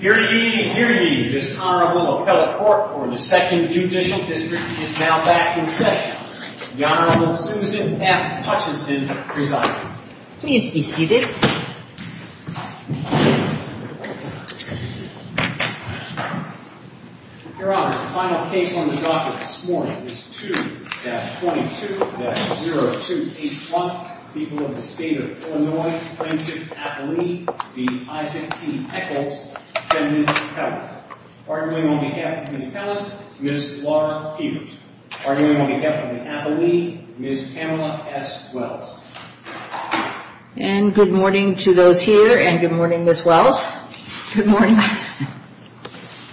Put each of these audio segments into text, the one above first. Here ye, here ye. This Honorable Ocala Court for the Second Judicial District is now back in session. The Honorable Susan F. Hutchinson presiding. Please be seated. Your Honor, the final case on the docket this morning is 2-22-0281. People of the State of Illinois Plaintiff Appellee v. Isaac T. Echols, Feminine Appellant. Arguing on behalf of the Appellant, Ms. Laura Peters. Arguing on behalf of the Appellee, Ms. Pamela S. Wells. And good morning to those here and good morning Ms. Wells. Good morning.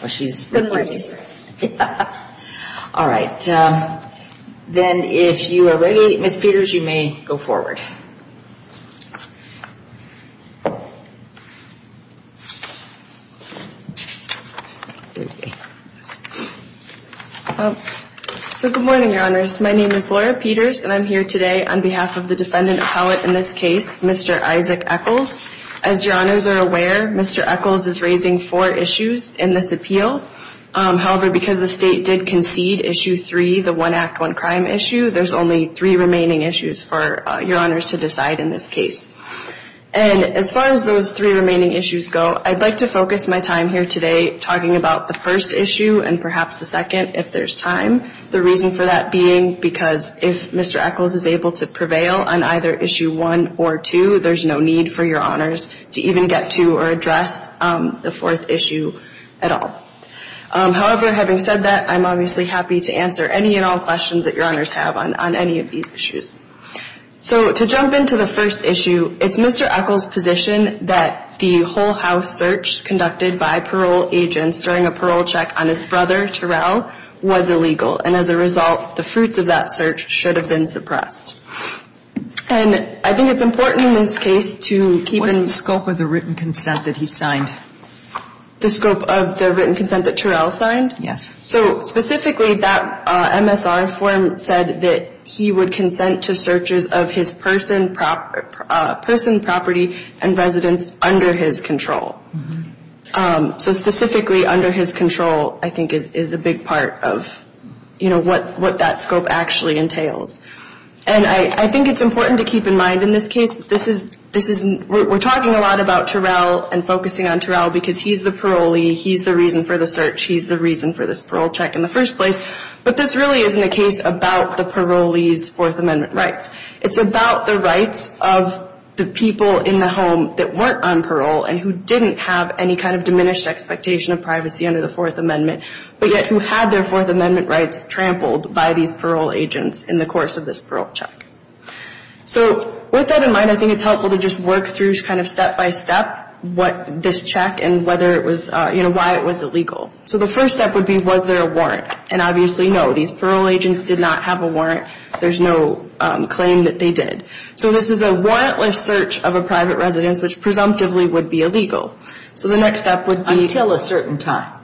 Well she's... Good morning. All right. Then if you are ready, Ms. Peters, you may go forward. So good morning, Your Honors. My name is Laura Peters and I'm here today on behalf of the Defendant Appellate in this case, Mr. Isaac Echols. As Your Honors are aware, Mr. Echols is raising four issues in this appeal. However, because the State did concede Issue 3, the One Act, One Crime issue, there's only three remaining issues for Your Honors to decide in this case. And as far as those three remaining issues go, I'd like to focus my time here today talking about the first issue and perhaps the second if there's time. The reason for that being because if Mr. Echols is able to prevail on either Issue 1 or 2, there's no need for Your Honors to even get to or address the fourth issue at all. However, having said that, I'm obviously happy to answer any and all questions that Your Honors have on any of these issues. So to jump into the first issue, it's Mr. Echols' position that the whole house search conducted by parole agents during a parole check on his brother, Terrell, was illegal. And as a result, the fruits of that search should have been suppressed. And I think it's important in this case to keep in mind... What's the scope of the written consent that he signed? The scope of the written consent that Terrell signed? Yes. So specifically, that MSR form said that he would consent to searches of his person, property, and residence under his control. So specifically under his control, I think, is a big part of what that scope actually entails. And I think it's important to keep in mind in this case... We're talking a lot about Terrell and focusing on Terrell because he's the parolee. He's the reason for the search. He's the reason for this parole check in the first place. But this really isn't a case about the parolee's Fourth Amendment rights. It's about the rights of the people in the home that weren't on parole and who didn't have any kind of diminished expectation of privacy under the Fourth Amendment, but yet who had their Fourth Amendment rights trampled by these parole agents in the course of this parole check. So with that in mind, I think it's helpful to just work through step-by-step this check and why it was illegal. So the first step would be, was there a warrant? And obviously, no. These parole agents did not have a warrant. There's no claim that they did. So this is a warrantless search of a private residence, which presumptively would be illegal. So the next step would be... Until a certain time.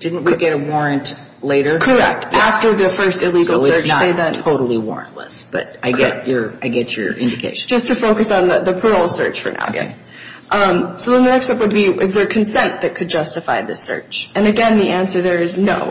Didn't we get a warrant later? Correct. After the first illegal search. So it's not totally warrantless, but I get your indication. Just to focus on the parole search for now. Yes. So the next step would be, is there consent that could justify this search? And again, the answer there is no.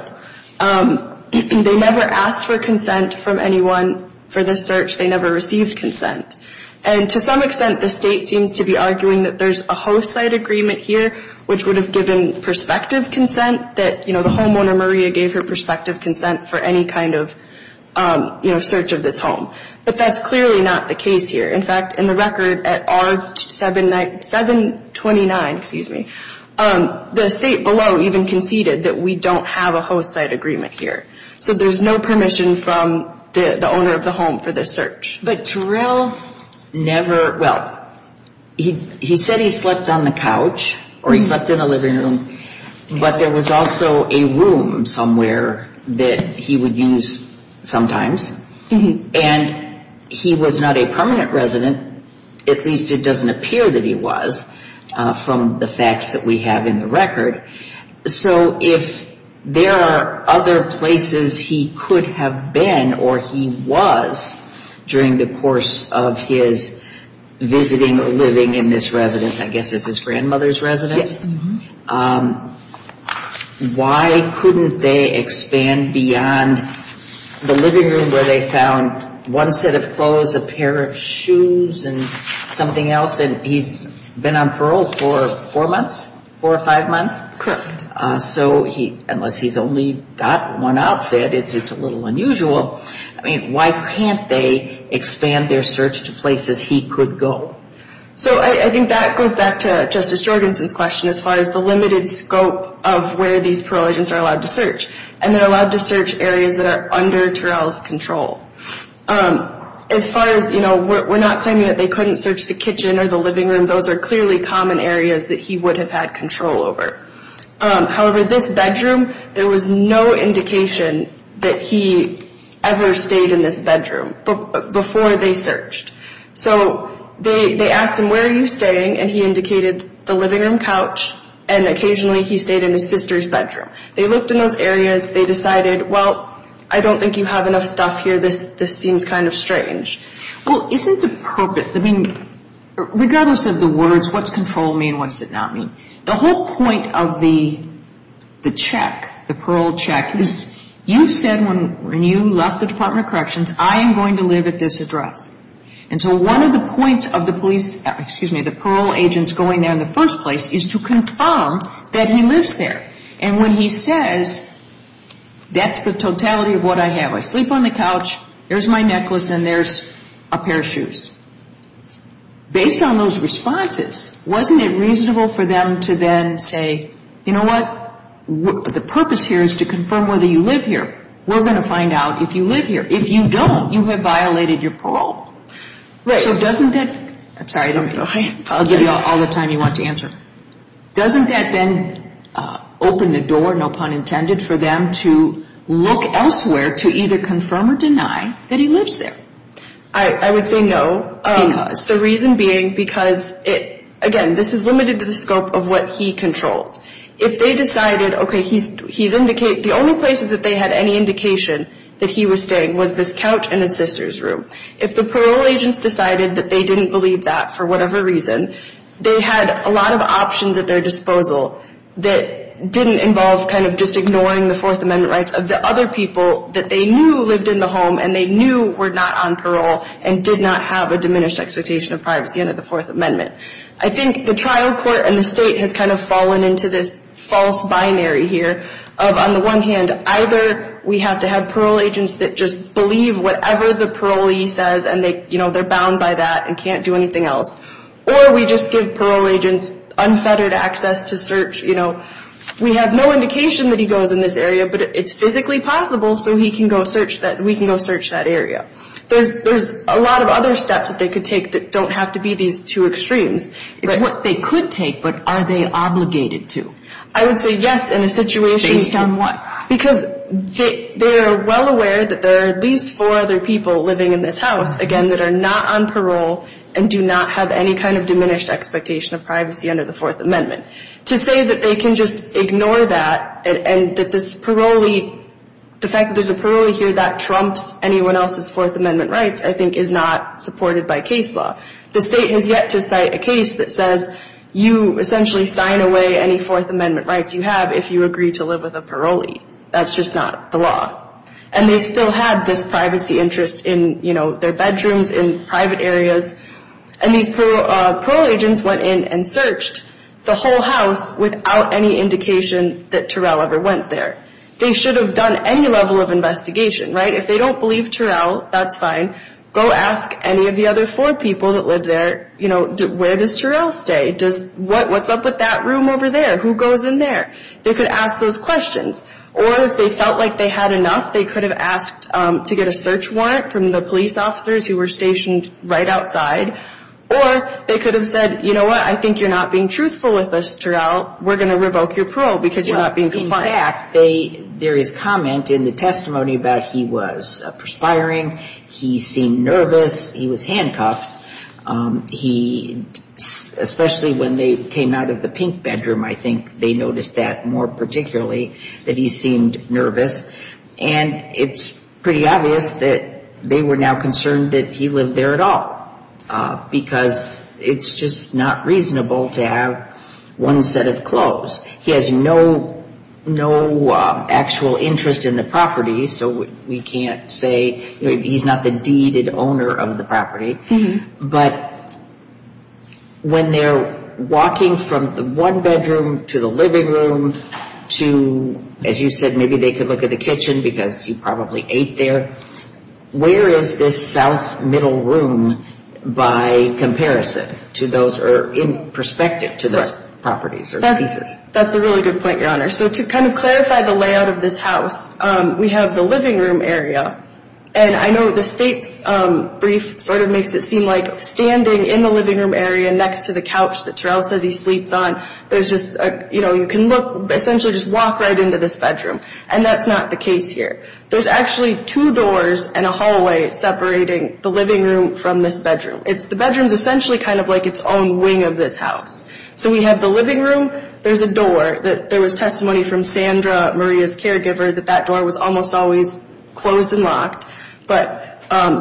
They never asked for consent from anyone for this search. They never received consent. And to some extent, the state seems to be arguing that there's a host site agreement here, which would have given perspective consent, that the homeowner, Maria, gave her perspective consent for any kind of search of this home. But that's clearly not the case here. In fact, in the record at R-729, the state below even conceded that we don't have a host site agreement here. So there's no permission from the owner of the home for this search. But Terrell never – well, he said he slept on the couch or he slept in the living room, but there was also a room somewhere that he would use sometimes. And he was not a permanent resident. At least it doesn't appear that he was from the facts that we have in the record. So if there are other places he could have been or he was during the course of his visiting or living in this residence, I guess this is his grandmother's residence. Yes. Why couldn't they expand beyond the living room where they found one set of clothes, a pair of shoes, and something else? And he's been on parole for four months, four or five months? Correct. So unless he's only got one outfit, it's a little unusual. I mean, why can't they expand their search to places he could go? So I think that goes back to Justice Jorgenson's question as far as the limited scope of where these parole agents are allowed to search. And they're allowed to search areas that are under Terrell's control. As far as, you know, we're not claiming that they couldn't search the kitchen or the living room. Those are clearly common areas that he would have had control over. However, this bedroom, there was no indication that he ever stayed in this bedroom before they searched. So they asked him, where are you staying? And he indicated the living room couch, and occasionally he stayed in his sister's bedroom. They looked in those areas. They decided, well, I don't think you have enough stuff here. This seems kind of strange. Well, isn't the purpose, I mean, regardless of the words, what's control mean, what does it not mean? The whole point of the check, the parole check, is you said when you left the Department of Corrections, I am going to live at this address. And so one of the points of the police, excuse me, the parole agents going there in the first place, is to confirm that he lives there. And when he says, that's the totality of what I have. I sleep on the couch, there's my necklace, and there's a pair of shoes. Based on those responses, wasn't it reasonable for them to then say, you know what, the purpose here is to confirm whether you live here. We're going to find out if you live here. If you don't, you have violated your parole. So doesn't that, I'm sorry, I'll give you all the time you want to answer. Doesn't that then open the door, no pun intended, for them to look elsewhere to either confirm or deny that he lives there? I would say no. Because? The reason being because, again, this is limited to the scope of what he controls. If they decided, okay, the only place that they had any indication that he was staying was this couch in his sister's room. If the parole agents decided that they didn't believe that for whatever reason, they had a lot of options at their disposal that didn't involve kind of just ignoring the Fourth Amendment rights of the other people that they knew lived in the home and they knew were not on parole and did not have a diminished expectation of privacy under the Fourth Amendment. I think the trial court and the state has kind of fallen into this false binary here of on the one hand, either we have to have parole agents that just believe whatever the parolee says and they're bound by that and can't do anything else. Or we just give parole agents unfettered access to search. You know, we have no indication that he goes in this area, but it's physically possible so we can go search that area. There's a lot of other steps that they could take that don't have to be these two extremes. It's what they could take, but are they obligated to? I would say yes in a situation. Based on what? Because they are well aware that there are at least four other people living in this house, again, that are not on parole and do not have any kind of diminished expectation of privacy under the Fourth Amendment. To say that they can just ignore that and that this parolee, the fact that there's a parolee here that trumps anyone else's Fourth Amendment rights, I think is not supported by case law. The state has yet to cite a case that says you essentially sign away any Fourth Amendment rights you have if you agree to live with a parolee. That's just not the law. And they still had this privacy interest in their bedrooms, in private areas, and these parole agents went in and searched the whole house without any indication that Terrell ever went there. They should have done any level of investigation, right? If they don't believe Terrell, that's fine. Go ask any of the other four people that live there, you know, where does Terrell stay? What's up with that room over there? Who goes in there? They could ask those questions. Or if they felt like they had enough, they could have asked to get a search warrant from the police officers who were stationed right outside. Or they could have said, you know what, I think you're not being truthful with us, Terrell. We're going to revoke your parole because you're not being compliant. In fact, there is comment in the testimony about he was perspiring, he seemed nervous, he was handcuffed. He, especially when they came out of the pink bedroom, I think they noticed that more particularly, that he seemed nervous. And it's pretty obvious that they were now concerned that he lived there at all because it's just not reasonable to have one set of clothes. He has no actual interest in the property, so we can't say he's not the deeded owner of the property. But when they're walking from the one bedroom to the living room to, as you said, maybe they could look at the kitchen because he probably ate there, where is this south middle room by comparison to those or in perspective to those properties or pieces? That's a really good point, Your Honor. So to kind of clarify the layout of this house, we have the living room area. And I know the state's brief sort of makes it seem like standing in the living room area next to the couch that Terrell says he sleeps on, there's just a, you know, you can look, essentially just walk right into this bedroom. And that's not the case here. There's actually two doors and a hallway separating the living room from this bedroom. The bedroom is essentially kind of like its own wing of this house. There was testimony from Sandra, Maria's caregiver, that that door was almost always closed and locked. But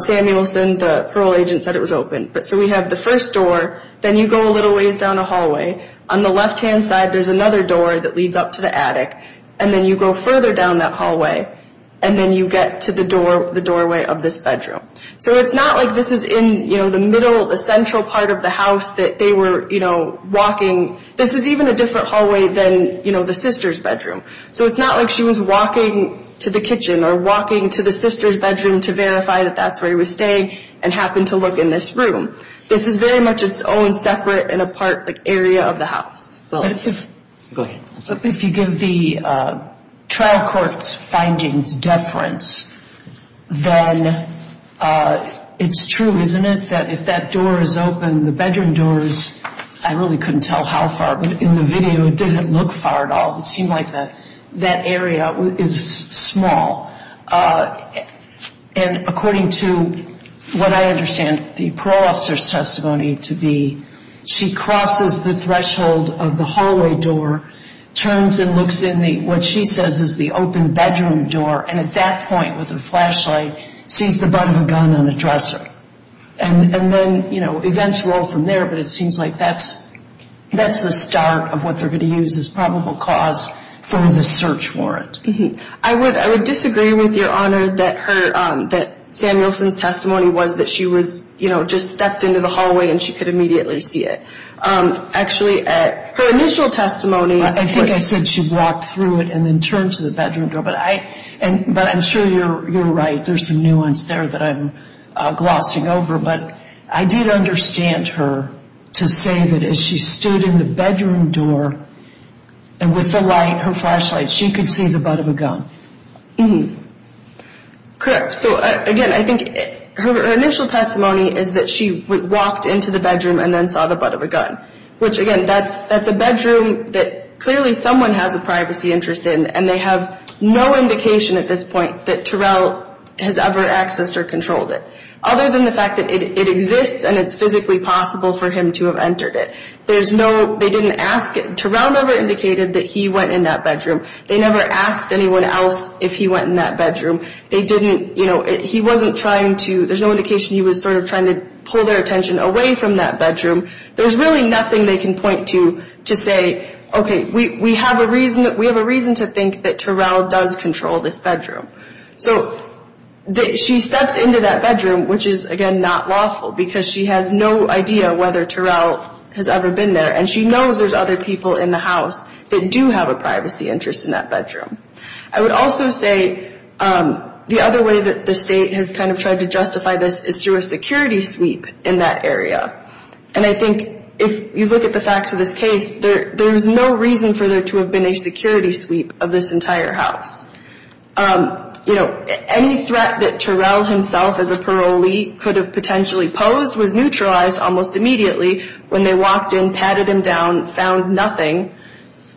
Samuelson, the parole agent, said it was open. So we have the first door. Then you go a little ways down a hallway. On the left-hand side, there's another door that leads up to the attic. And then you go further down that hallway, and then you get to the doorway of this bedroom. So it's not like this is in, you know, the middle, the central part of the house that they were, you know, walking. This is even a different hallway than, you know, the sister's bedroom. So it's not like she was walking to the kitchen or walking to the sister's bedroom to verify that that's where he was staying and happened to look in this room. This is very much its own separate and apart area of the house. Go ahead. If you give the trial court's findings deference, then it's true, isn't it, that if that door is open, the bedroom doors, I really couldn't tell how far, but in the video it didn't look far at all. It seemed like that area is small. And according to what I understand the parole officer's testimony to be, she crosses the threshold of the hallway door, turns and looks in what she says is the open bedroom door, and at that point, with a flashlight, sees the butt of a gun on a dresser. And then, you know, events roll from there, but it seems like that's the start of what they're going to use as probable cause for the search warrant. I would disagree with Your Honor that Samuelson's testimony was that she was, you know, just stepped into the hallway and she could immediately see it. Actually, her initial testimony – I think I said she walked through it and then turned to the bedroom door, but I'm sure you're right. There's some nuance there that I'm glossing over, but I did understand her to say that as she stood in the bedroom door and with the light, her flashlight, she could see the butt of a gun. Correct. So, again, I think her initial testimony is that she walked into the bedroom and then saw the butt of a gun, which, again, that's a bedroom that clearly someone has a privacy interest in, and they have no indication at this point that Terrell has ever accessed or controlled it, other than the fact that it exists and it's physically possible for him to have entered it. There's no – they didn't ask – Terrell never indicated that he went in that bedroom. They never asked anyone else if he went in that bedroom. They didn't – you know, he wasn't trying to – there's no indication he was sort of trying to pull their attention away from that bedroom. There's really nothing they can point to to say, okay, we have a reason to think that Terrell does control this bedroom. So she steps into that bedroom, which is, again, not lawful, because she has no idea whether Terrell has ever been there, and she knows there's other people in the house that do have a privacy interest in that bedroom. I would also say the other way that the State has kind of tried to justify this is through a security sweep in that area, and I think if you look at the facts of this case, there's no reason for there to have been a security sweep of this entire house. You know, any threat that Terrell himself as a parolee could have potentially posed was neutralized almost immediately when they walked in, patted him down, found nothing,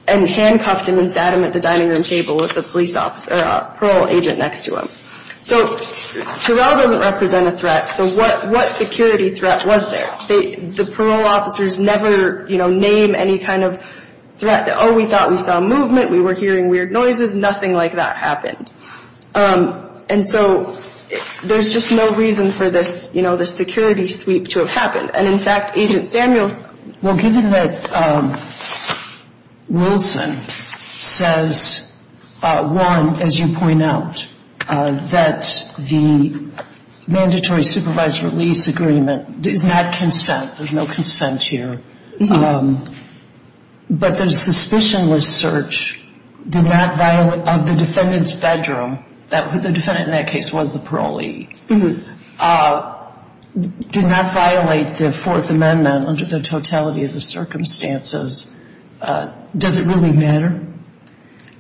and handcuffed him and sat him at the dining room table with a police officer – or a parole agent next to him. So Terrell doesn't represent a threat, so what security threat was there? The parole officers never, you know, name any kind of threat that, oh, we thought we saw movement, we were hearing weird noises, nothing like that happened. And so there's just no reason for this, you know, this security sweep to have happened. And in fact, Agent Samuels – Given that Wilson says, one, as you point out, that the mandatory supervised release agreement is not consent, there's no consent here, but the suspicionless search of the defendant's bedroom – the defendant in that case was the parolee – did not violate the Fourth Amendment under the totality of the circumstances. Does it really matter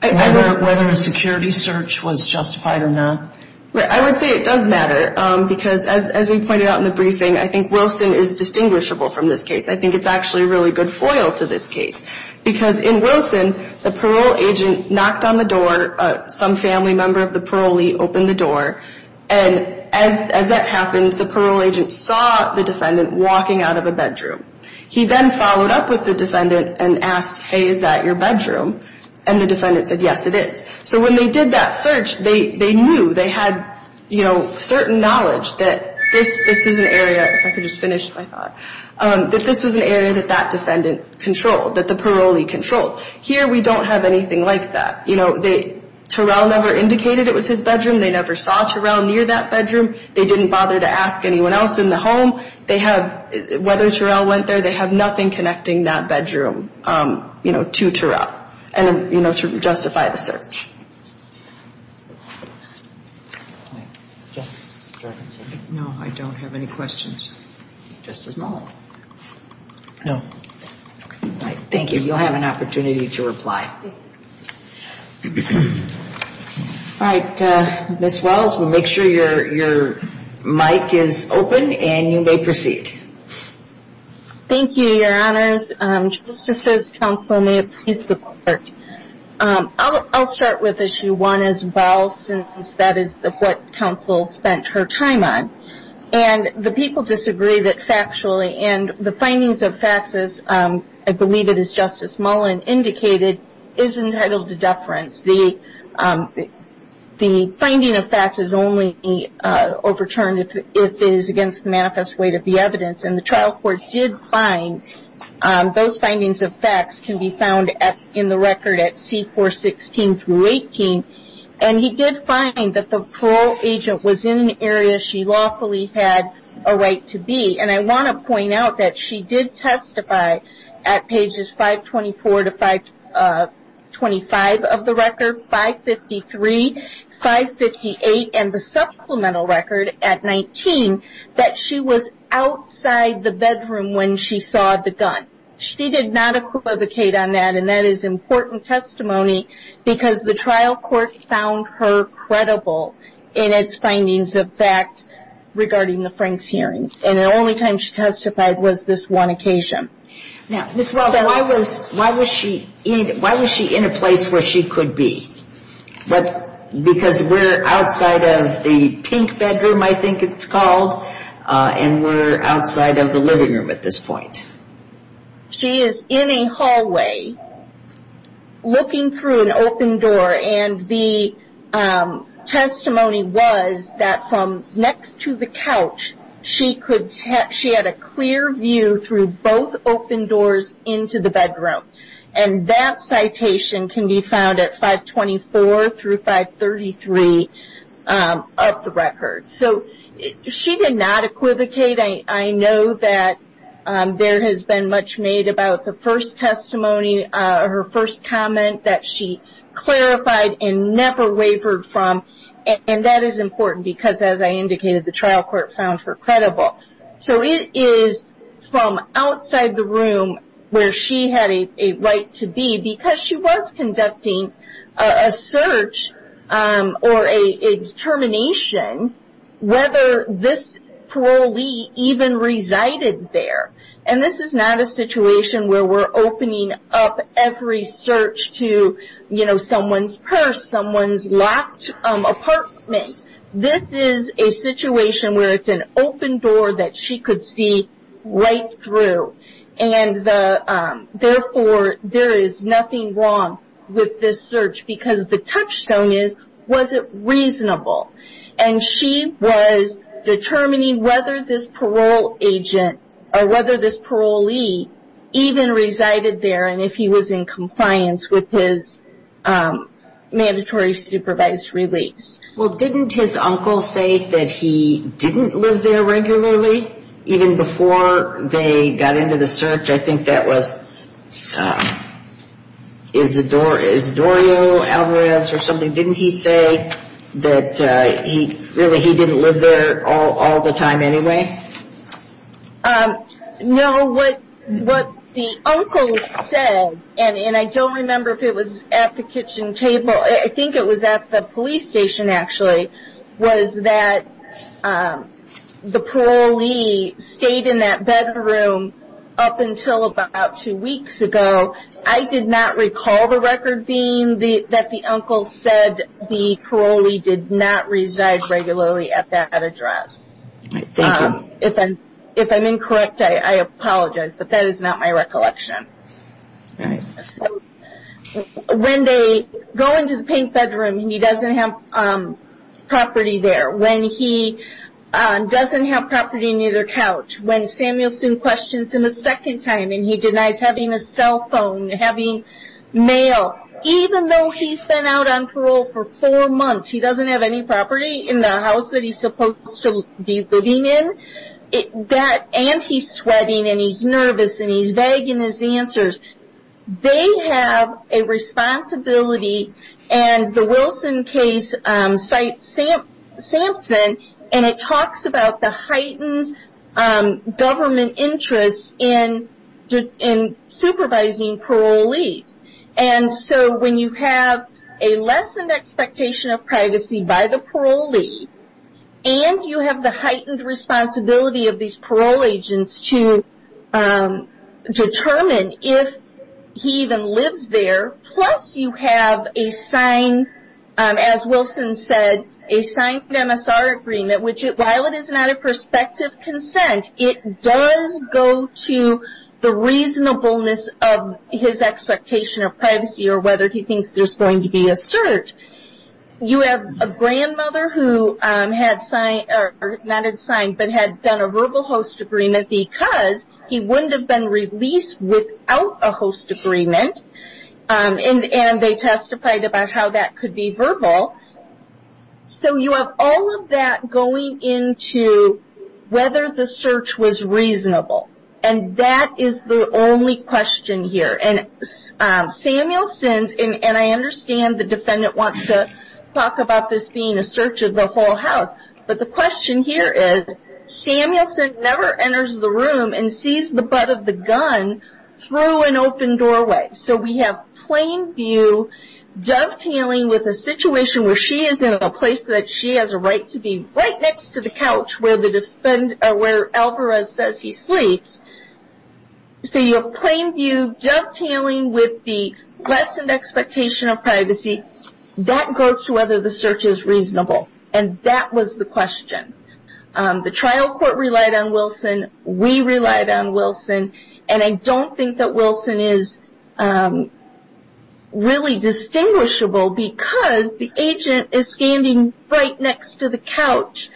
whether a security search was justified or not? I would say it does matter, because as we pointed out in the briefing, I think Wilson is distinguishable from this case. I think it's actually a really good foil to this case, because in Wilson, the parole agent knocked on the door, some family member of the parolee opened the door, and as that happened, the parole agent saw the defendant walking out of a bedroom. He then followed up with the defendant and asked, hey, is that your bedroom? And the defendant said, yes, it is. So when they did that search, they knew, they had, you know, certain knowledge that this is an area – if I could just finish my thought – that this was an area that that defendant controlled, that the parolee controlled. Here, we don't have anything like that. Terrell never indicated it was his bedroom. They never saw Terrell near that bedroom. They didn't bother to ask anyone else in the home whether Terrell went there. They have nothing connecting that bedroom to Terrell to justify the search. No, I don't have any questions. Justice Malone. No. All right, thank you. You'll have an opportunity to reply. All right, Ms. Wells, we'll make sure your mic is open, and you may proceed. Thank you, Your Honors. Justices, counsel, may it please the Court. I'll start with Issue 1 as well, since that is what counsel spent her time on. And the people disagree that factually – and the findings of facts, as I believe it is Justice Malone indicated, is entitled to deference. The finding of facts is only overturned if it is against the manifest weight of the evidence. And the trial court did find those findings of facts can be found in the record at C-416-18. And he did find that the parole agent was in an area she lawfully had a right to be. And I want to point out that she did testify at pages 524 to 525 of the record, 553, 558, and the supplemental record at 19 that she was outside the bedroom when she saw the gun. She did not equivocate on that, and that is important testimony, because the trial court found her credible in its findings of fact regarding the Franks hearing. And the only time she testified was this one occasion. Now, Ms. Wells, why was she in a place where she could be? Because we're outside of the pink bedroom, I think it's called, and we're outside of the living room at this point. She is in a hallway looking through an open door, and the testimony was that from next to the couch, she had a clear view through both open doors into the bedroom. And that citation can be found at 524 through 533 of the record. So she did not equivocate. I know that there has been much made about the first testimony, her first comment that she clarified and never wavered from, and that is important because, as I indicated, the trial court found her credible. So it is from outside the room where she had a right to be, because she was conducting a search or a determination whether this parolee even resided there. And this is not a situation where we're opening up every search to, you know, someone's purse, someone's locked apartment. This is a situation where it's an open door that she could see right through, and therefore there is nothing wrong with this search because the touchstone is, was it reasonable? And she was determining whether this parole agent or whether this parolee even resided there and if he was in compliance with his mandatory supervised release. Well, didn't his uncle say that he didn't live there regularly even before they got into the search? I think that was Isidoro Alvarez or something. Didn't he say that really he didn't live there all the time anyway? No, what the uncle said, and I don't remember if it was at the kitchen table. I think it was at the police station actually, was that the parolee stayed in that bedroom up until about two weeks ago. I did not recall the record being that the uncle said the parolee did not reside regularly at that address. If I'm incorrect, I apologize, but that is not my recollection. All right, so when they go into the pink bedroom and he doesn't have property there, when he doesn't have property near their couch, when Samuel questions him a second time and he denies having a cell phone, having mail, even though he's been out on parole for four months, he doesn't have any property in the house that he's supposed to be living in, and he's sweating and he's nervous and he's vague in his answers, they have a responsibility and the Wilson case cites Sampson and it talks about the heightened government interest in supervising parolees. And so when you have a lessened expectation of privacy by the parolee and you have the heightened responsibility of these parole agents to determine if he even lives there, plus you have a signed, as Wilson said, a signed MSR agreement, which while it is not a prospective consent, it does go to the reasonableness of his expectation of privacy or whether he thinks there's going to be a cert. You have a grandmother who had signed, or not had signed, but had done a verbal host agreement because he wouldn't have been released without a host agreement, So you have all of that going into whether the search was reasonable. And that is the only question here. And Samuelson, and I understand the defendant wants to talk about this being a search of the whole house, but the question here is, Samuelson never enters the room and sees the butt of the gun through an open doorway. So we have plain view dovetailing with a situation where she is in a place that she has a right to be right next to the couch where Alvarez says he sleeps. So you have plain view dovetailing with the lessened expectation of privacy. That goes to whether the search is reasonable. And that was the question. We relied on Wilson. And I don't think that Wilson is really distinguishable because the agent is standing right next to the couch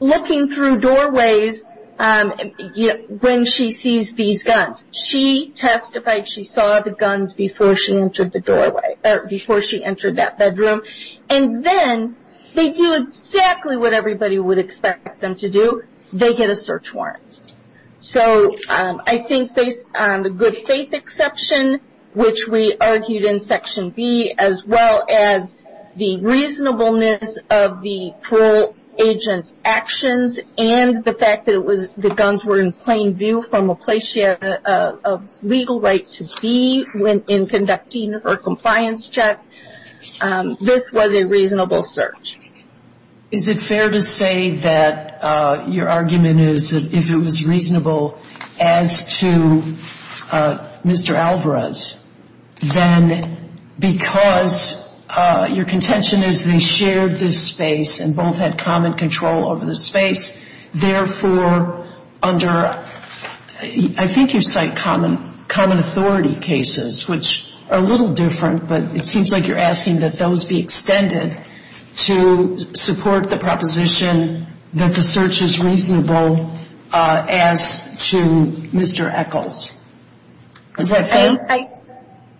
looking through doorways when she sees these guns. She testified she saw the guns before she entered that bedroom. And then they do exactly what everybody would expect them to do. They get a search warrant. So I think based on the good faith exception, which we argued in Section B, as well as the reasonableness of the parole agent's actions and the fact that the guns were in plain view from a place she had a legal right to be in conducting her compliance check, this was a reasonable search. Is it fair to say that your argument is that if it was reasonable as to Mr. Alvarez, then because your contention is they shared this space and both had common control over the space, therefore under, I think you cite common authority cases, which are a little different, but it seems like you're asking that those be extended to support the proposition that the search is reasonable as to Mr. Echols. Is that fair?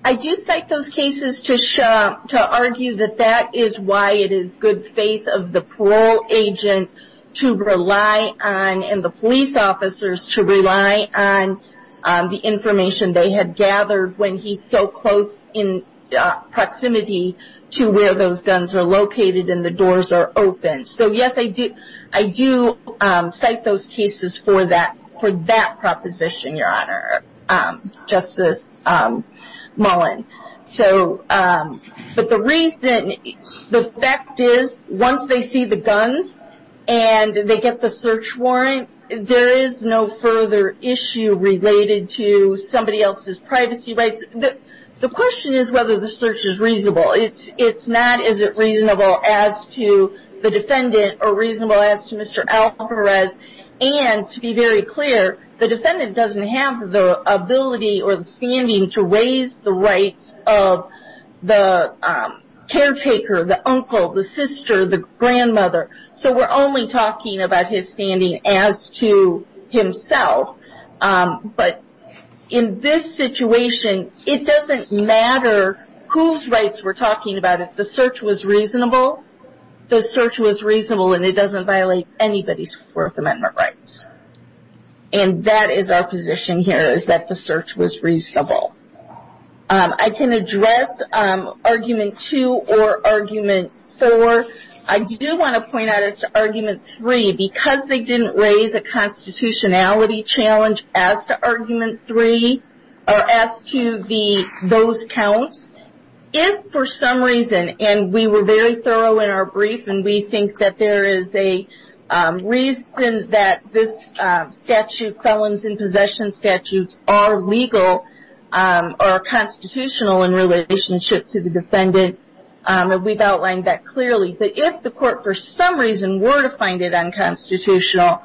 I do cite those cases to argue that that is why it is good faith of the parole agent to rely on, and the police officers to rely on the information they had gathered when he's so close in proximity to where those guns are located and the doors are open. So, yes, I do cite those cases for that proposition, Your Honor, Justice Mullen. But the reason, the fact is once they see the guns and they get the search warrant, there is no further issue related to somebody else's privacy rights. The question is whether the search is reasonable. It's not is it reasonable as to the defendant or reasonable as to Mr. Alvarez, and to be very clear, the defendant doesn't have the ability or the standing to raise the rights of the caretaker, the uncle, the sister, the grandmother. So we're only talking about his standing as to himself. But in this situation, it doesn't matter whose rights we're talking about. If the search was reasonable, the search was reasonable, and it doesn't violate anybody's Fourth Amendment rights. And that is our position here is that the search was reasonable. I can address Argument 2 or Argument 4. I do want to point out as to Argument 3, because they didn't raise a constitutionality challenge as to Argument 3 or as to those counts, if for some reason, and we were very thorough in our brief, and we think that there is a reason that this statute, felons in possession statutes, are legal or constitutional in relationship to the defendant. We've outlined that clearly. But if the court for some reason were to find it unconstitutional,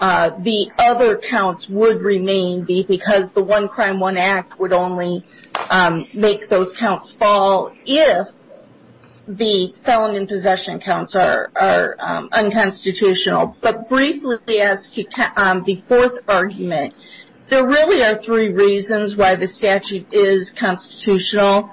the other counts would remain because the One Crime, One Act would only make those counts fall if the felon in possession counts are unconstitutional. But briefly, as to the fourth argument, there really are three reasons why the statute is constitutional.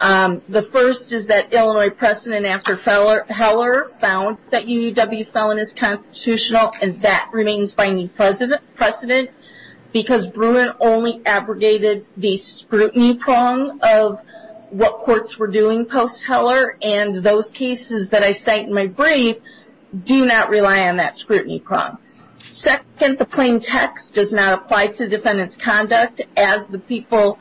The first is that Illinois precedent after Heller found that UUW felon is constitutional, and that remains by any precedent because Bruin only abrogated the scrutiny prong of what courts were doing post-Heller, and those cases that I cite in my brief do not rely on that scrutiny prong. Second, the plain text does not apply to defendant's conduct, as the people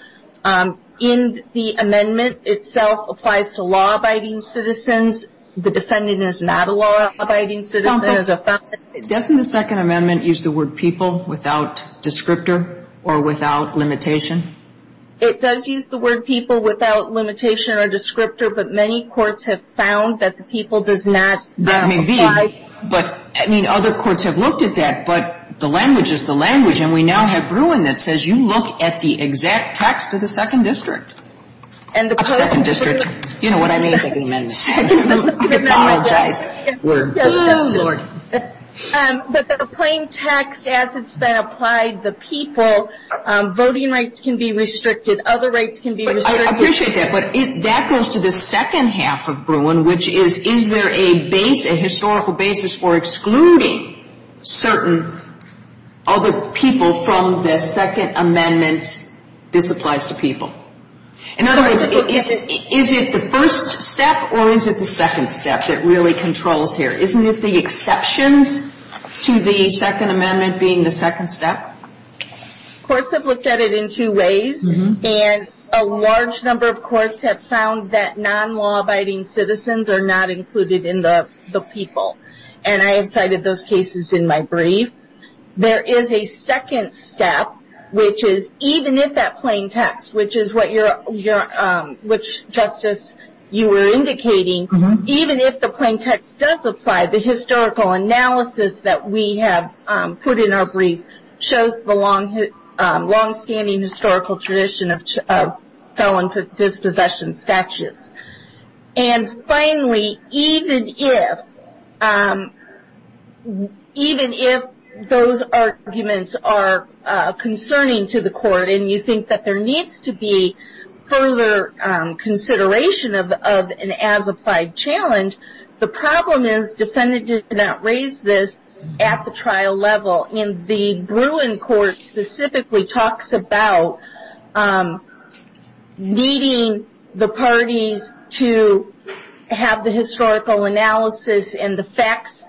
in the amendment itself applies to law-abiding citizens. The defendant is not a law-abiding citizen as a felon. Doesn't the Second Amendment use the word people without descriptor or without limitation? It does use the word people without limitation or descriptor, but many courts have found that the people does not apply. I mean, other courts have looked at that, but the language is the language, and we now have Bruin that says you look at the exact text of the Second District. But the plain text, as it's been applied, the people, voting rights can be restricted, other rights can be restricted. I appreciate that, but that goes to the second half of Bruin, which is, is there a historical basis for excluding certain other people from the Second Amendment? This applies to people. In other words, is it the first step or is it the second step that really controls here? Isn't it the exceptions to the Second Amendment being the second step? Courts have looked at it in two ways, and a large number of courts have found that non-law-abiding citizens are not included in the people, and I have cited those cases in my brief. There is a second step, which is even if that plain text, which is what Justice, you were indicating, even if the plain text does apply, the historical analysis that we have put in our brief shows the longstanding historical tradition of felon dispossession statutes. And finally, even if, even if those arguments are concerning to the court and you think that there needs to be further consideration of an as-applied challenge, the problem is defendants did not raise this at the trial level. And the Bruin court specifically talks about needing the parties to have the historical analysis and the facts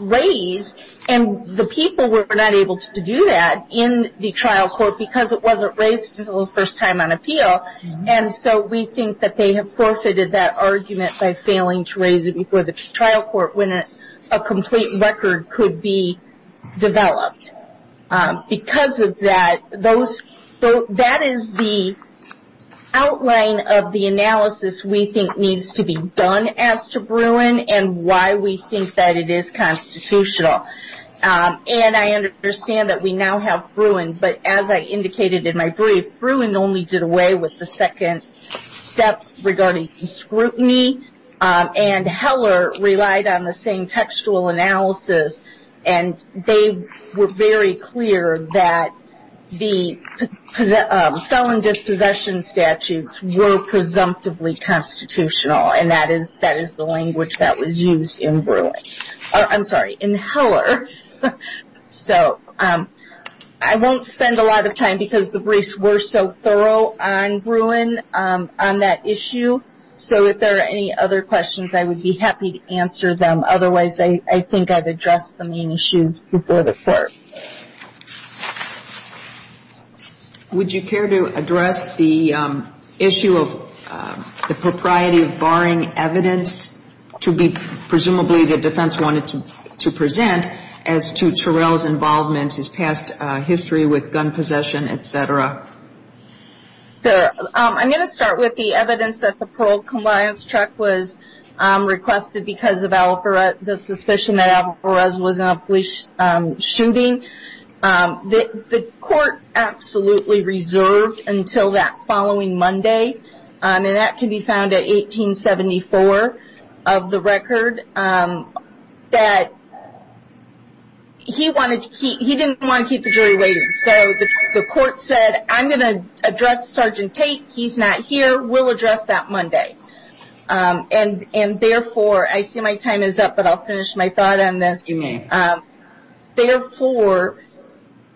raised, and the people were not able to do that in the trial court because it wasn't raised until the first time on appeal. And so we think that they have forfeited that argument by failing to raise it before the trial court when a complete record could be developed. Because of that, that is the outline of the analysis we think needs to be done as to Bruin and why we think that it is constitutional. And I understand that we now have Bruin, but as I indicated in my brief, Bruin only did away with the second step regarding scrutiny, and Heller relied on the same textual analysis and they were very clear that the felon dispossession statutes were presumptively constitutional, and that is the language that was used in Bruin. I'm sorry, in Heller. So I won't spend a lot of time because the briefs were so thorough on Bruin on that issue. So if there are any other questions, I would be happy to answer them. Otherwise, I think I've addressed the main issues before the court. Thank you. Would you care to address the issue of the propriety of barring evidence to be presumably the defense wanted to present as to Terrell's involvement, his past history with gun possession, et cetera? I'm going to start with the evidence that the parole compliance check was requested because of the suspicion that Alvarez was in a police shooting. The court absolutely reserved until that following Monday, and that can be found at 1874 of the record, that he didn't want to keep the jury waiting. So the court said, I'm going to address Sergeant Tate. He's not here. We'll address that Monday. And therefore, I see my time is up, but I'll finish my thought on this. You may. Therefore,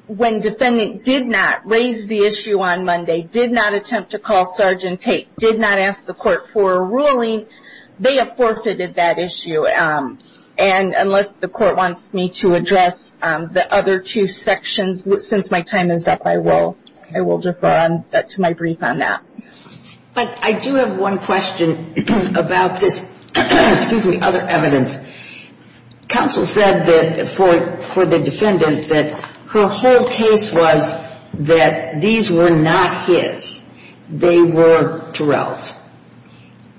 when defendant did not raise the issue on Monday, did not attempt to call Sergeant Tate, did not ask the court for a ruling, they have forfeited that issue. And unless the court wants me to address the other two sections, since my time is up, I will defer to my brief on that. But I do have one question about this, excuse me, other evidence. Counsel said that for the defendant that her whole case was that these were not his. They were Terrell's.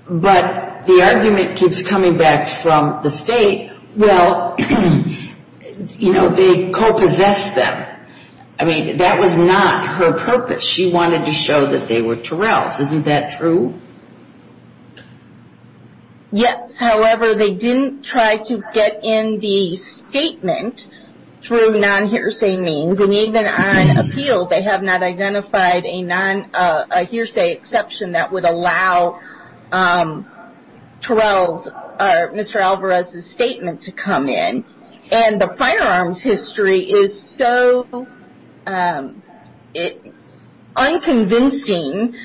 But the argument keeps coming back from the state, well, you know, they co-possessed them. I mean, that was not her purpose. She wanted to show that they were Terrell's. Isn't that true? Yes. However, they didn't try to get in the statement through non-hearsay means. And even on appeal, they have not identified a non-hearsay exception that would allow Mr. Alvarez's statement to come in. And the firearms history is so unconvincing,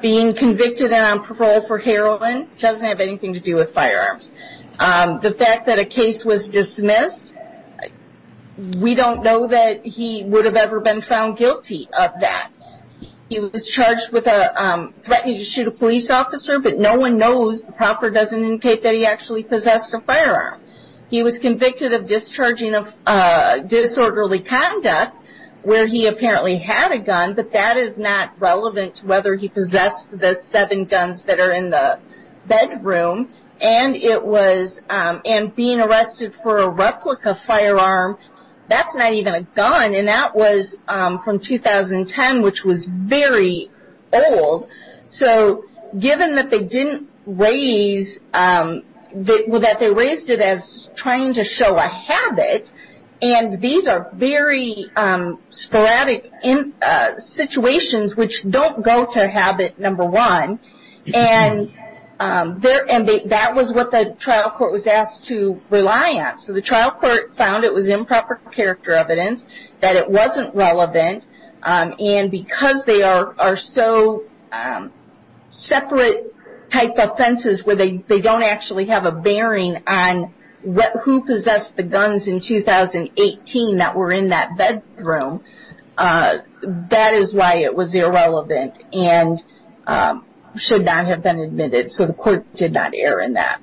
being convicted and on parole for heroin doesn't have anything to do with firearms. The fact that a case was dismissed, we don't know that he would have ever been found guilty of that. He was charged with threatening to shoot a police officer, but no one knows, the proffer doesn't indicate that he actually possessed a firearm. He was convicted of discharging of disorderly conduct where he apparently had a gun, but that is not relevant to whether he possessed the seven guns that are in the bedroom. And it was, and being arrested for a replica firearm, that's not even a gun. And that was from 2010, which was very old. So given that they didn't raise, that they raised it as trying to show a habit, and these are very sporadic situations which don't go to habit number one, and that was what the trial court was asked to rely on. So the trial court found it was improper character evidence, that it wasn't relevant, and because they are so separate type offenses where they don't actually have a bearing on who possessed the guns in 2018 that were in that bedroom, that is why it was irrelevant and should not have been admitted. So the court did not err in that.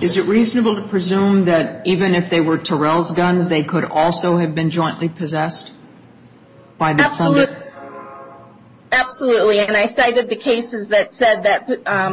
Is it reasonable to presume that even if they were Terrell's guns, they could also have been jointly possessed by the defendant? Absolutely, and I cited the cases that said that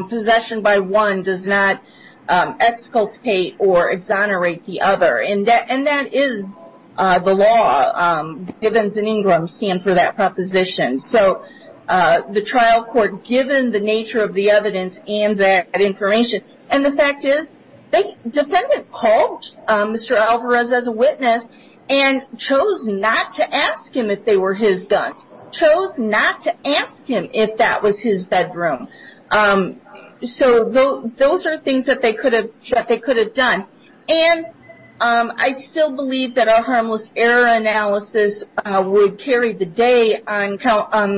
possession by one does not exculpate or exonerate the other, and that is the law. Givens and Ingram stand for that proposition. So the trial court, given the nature of the evidence and that information, and the fact is the defendant called Mr. Alvarez as a witness and chose not to ask him if they were his guns, chose not to ask him if that was his bedroom. So those are things that they could have done, and I still believe that a harmless error analysis would carry the day on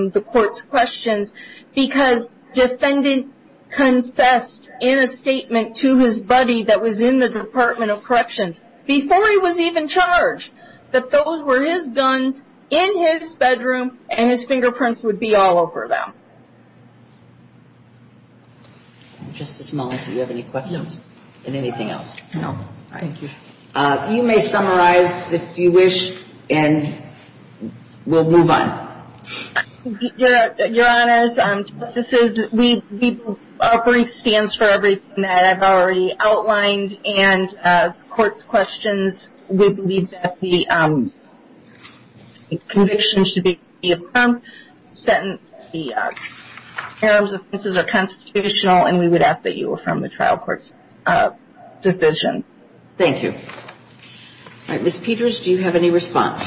the court's questions because defendant confessed in a statement to his buddy that was in the Department of Corrections before he was even charged that those were his guns in his bedroom and his fingerprints would be all over them. Just this moment, do you have any questions on anything else? No, thank you. You may summarize if you wish, and we'll move on. Your Honors, justices, our brief stands for everything that I've already outlined, and the court's questions, we believe that the conviction should be affirmed, the parent's offenses are constitutional, and we would ask that you affirm the trial court's decision. Thank you. All right, Ms. Peters, do you have any response?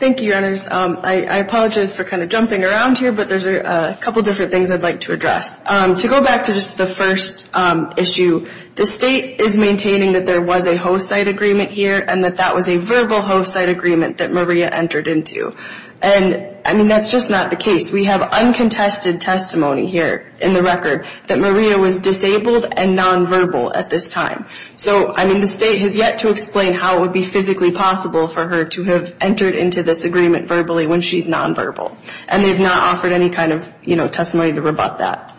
Thank you, Your Honors. I apologize for kind of jumping around here, but there's a couple different things I'd like to address. To go back to just the first issue, the state is maintaining that there was a host-site agreement here and that that was a verbal host-site agreement that Maria entered into, and, I mean, that's just not the case. We have uncontested testimony here in the record that Maria was disabled and nonverbal at this time. So, I mean, the state has yet to explain how it would be physically possible for her to have entered into this agreement verbally when she's nonverbal, and they've not offered any kind of, you know, testimony to rebut that.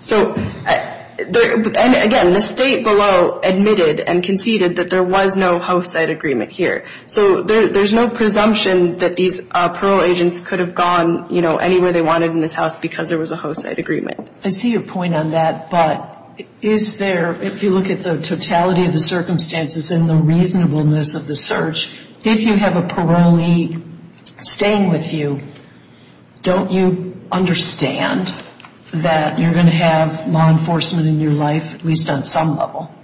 So, again, the state below admitted and conceded that there was no host-site agreement here. So there's no presumption that these parole agents could have gone, you know, anywhere they wanted in this house because there was a host-site agreement. I see your point on that, but is there, if you look at the totality of the circumstances and the reasonableness of the search, if you have a parolee staying with you, don't you understand that you're going to have law enforcement in your life, at least on some level?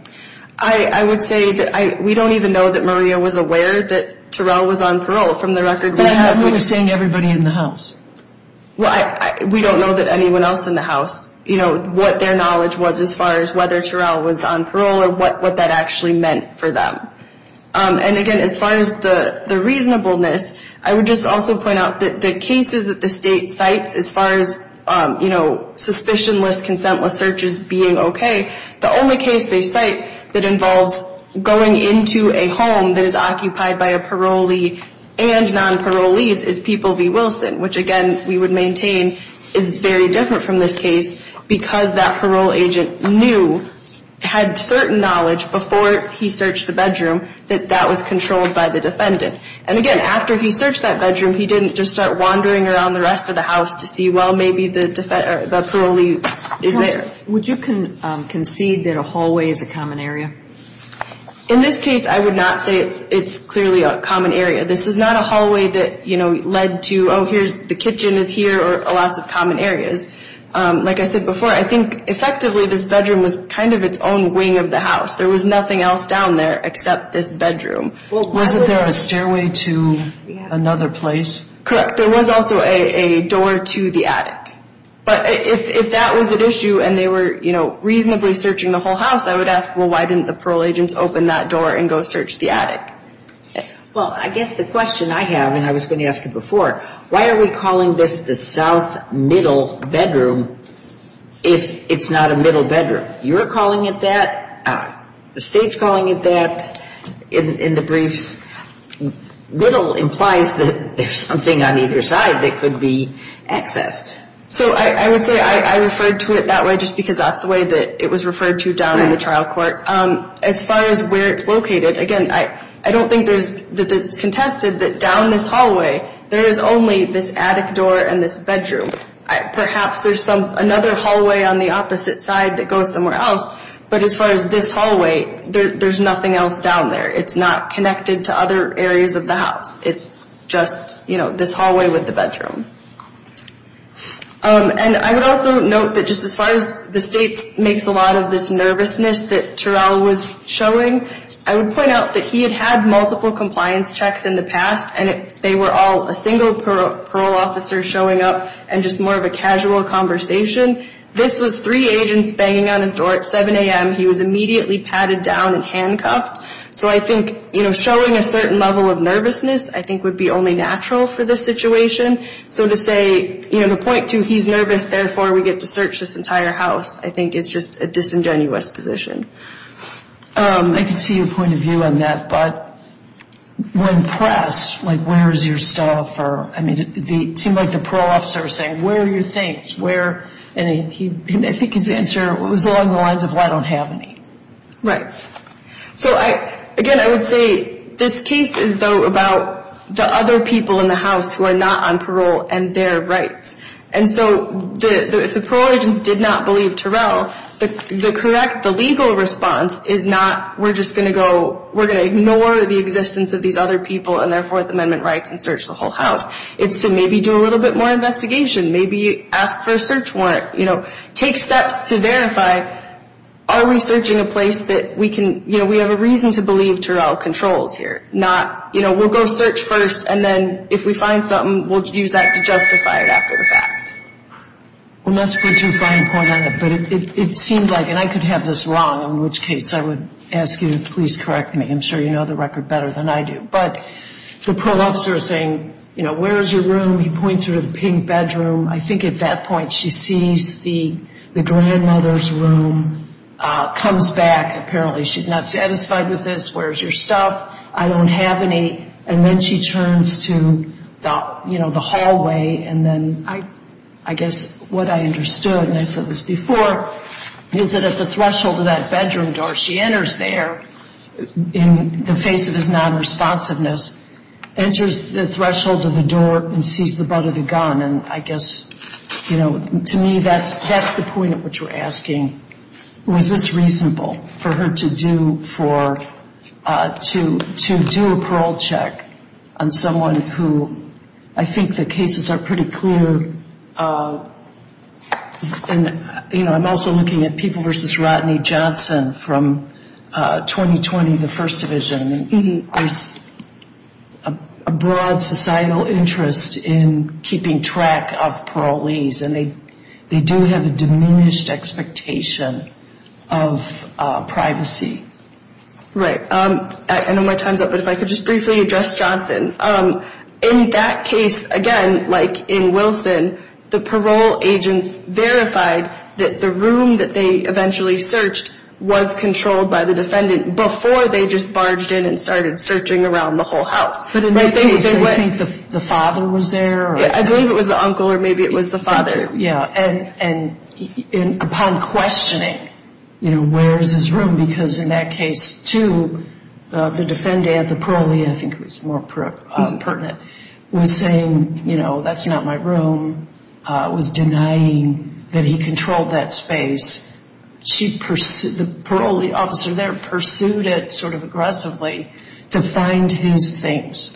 I would say that we don't even know that Maria was aware that Terrell was on parole from the record. But everyone was saying everybody in the house. Well, we don't know that anyone else in the house, you know, what their knowledge was as far as whether Terrell was on parole or what that actually meant for them. And, again, as far as the reasonableness, I would just also point out that the cases that the state cites as far as, you know, suspicionless, consentless searches being okay, the only case they cite that involves going into a home that is occupied by a parolee and non-parolees is People v. Wilson, which, again, we would maintain is very different from this case because that parole agent knew, had certain knowledge before he searched the bedroom, that that was controlled by the defendant. And, again, after he searched that bedroom, he didn't just start wandering around the rest of the house to see, well, maybe the parolee is there. Would you concede that a hallway is a common area? In this case, I would not say it's clearly a common area. This is not a hallway that, you know, led to, oh, here's the kitchen is here or lots of common areas. Like I said before, I think effectively this bedroom was kind of its own wing of the house. There was nothing else down there except this bedroom. Wasn't there a stairway to another place? Correct. There was also a door to the attic. But if that was at issue and they were, you know, reasonably searching the whole house, I would ask, well, why didn't the parole agents open that door and go search the attic? Well, I guess the question I have, and I was going to ask it before, why are we calling this the south middle bedroom if it's not a middle bedroom? You're calling it that. The State's calling it that in the briefs. Little implies that there's something on either side that could be accessed. So I would say I referred to it that way just because that's the way that it was referred to down in the trial court. As far as where it's located, again, I don't think that it's contested that down this hallway there is only this attic door and this bedroom. Perhaps there's another hallway on the opposite side that goes somewhere else, but as far as this hallway, there's nothing else down there. It's not connected to other areas of the house. It's just, you know, this hallway with the bedroom. And I would also note that just as far as the State makes a lot of this nervousness that Terrell was showing, I would point out that he had had multiple compliance checks in the past and they were all a single parole officer showing up and just more of a casual conversation. This was three agents banging on his door at 7 a.m. He was immediately patted down and handcuffed. So I think, you know, showing a certain level of nervousness I think would be only natural for this situation. So to say, you know, the point to he's nervous, therefore we get to search this entire house, I think is just a disingenuous position. I can see your point of view on that, but when pressed, like where is your stuff? I mean, it seemed like the parole officer was saying, where are your things? And I think his answer was along the lines of, well, I don't have any. Right. So again, I would say this case is, though, about the other people in the house who are not on parole and their rights. And so if the parole agents did not believe Terrell, the correct, the legal response is not we're just going to go, we're going to ignore the existence of these other people and their Fourth Amendment rights and search the whole house. It's to maybe do a little bit more investigation, maybe ask for a search warrant, you know, take steps to verify, are we searching a place that we can, you know, we have a reason to believe Terrell controls here, not, you know, we'll go search first and then if we find something, we'll use that to justify it after the fact. Well, not to put too fine a point on it, but it seems like, and I could have this wrong, in which case I would ask you to please correct me. I'm sure you know the record better than I do. But the parole officer is saying, you know, where is your room? He points her to the pink bedroom. I think at that point she sees the grandmother's room, comes back. Apparently she's not satisfied with this. Where's your stuff? I don't have any. And then she turns to, you know, the hallway, and then I guess what I understood, and I said this before, is that at the threshold of that bedroom door, she enters there in the face of his nonresponsiveness, enters the threshold of the door and sees the butt of the gun. And I guess, you know, to me that's the point at which we're asking, was this reasonable for her to do a parole check on someone who, I think the cases are pretty clear. You know, I'm also looking at People v. Rodney Johnson from 2020, the First Division. There's a broad societal interest in keeping track of parolees, and they do have a diminished expectation of privacy. Right. I know my time's up, but if I could just briefly address Johnson. In that case, again, like in Wilson, the parole agents verified that the room that they eventually searched was controlled by the defendant before they just barged in and started searching around the whole house. But in that case, do you think the father was there? I believe it was the uncle or maybe it was the father. Yeah. And upon questioning, you know, where's his room, because in that case, too, the defendant, the parolee, I think it was more pertinent, was saying, you know, that's not my room, was denying that he controlled that space. The parolee officer there pursued it sort of aggressively to find his things.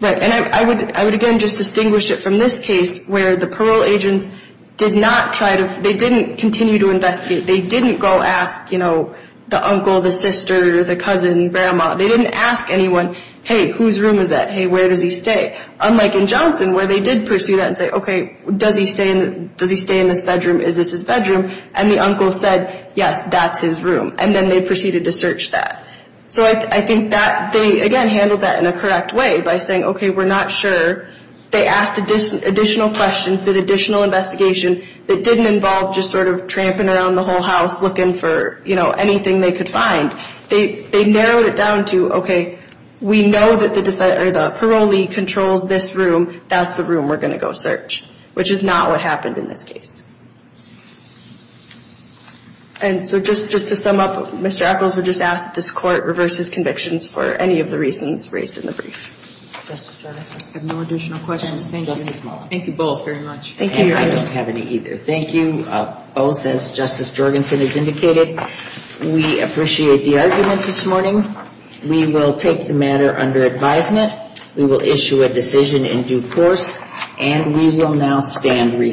Right. And I would, again, just distinguish it from this case where the parole agents did not try to – they didn't continue to investigate. They didn't go ask, you know, the uncle, the sister, the cousin, grandma. They didn't ask anyone, hey, whose room is that? Hey, where does he stay? Unlike in Johnson where they did pursue that and say, okay, does he stay in this bedroom? Is this his bedroom? And the uncle said, yes, that's his room, and then they proceeded to search that. So I think that they, again, handled that in a correct way by saying, okay, we're not sure. They asked additional questions, did additional investigation that didn't involve just sort of tramping around the whole house looking for, you know, anything they could find. They narrowed it down to, okay, we know that the parolee controls this room. That's the room we're going to go search, which is not what happened in this case. And so just to sum up, Mr. Ackles would just ask that this court reverse his convictions for any of the reasons raised in the brief. I have no additional questions. Thank you. Thank you both very much. Thank you. I don't have any either. Thank you both, as Justice Jorgensen has indicated. We appreciate the argument this morning. We will take the matter under advisement. We will issue a decision in due course, and we will now stand rescheduled.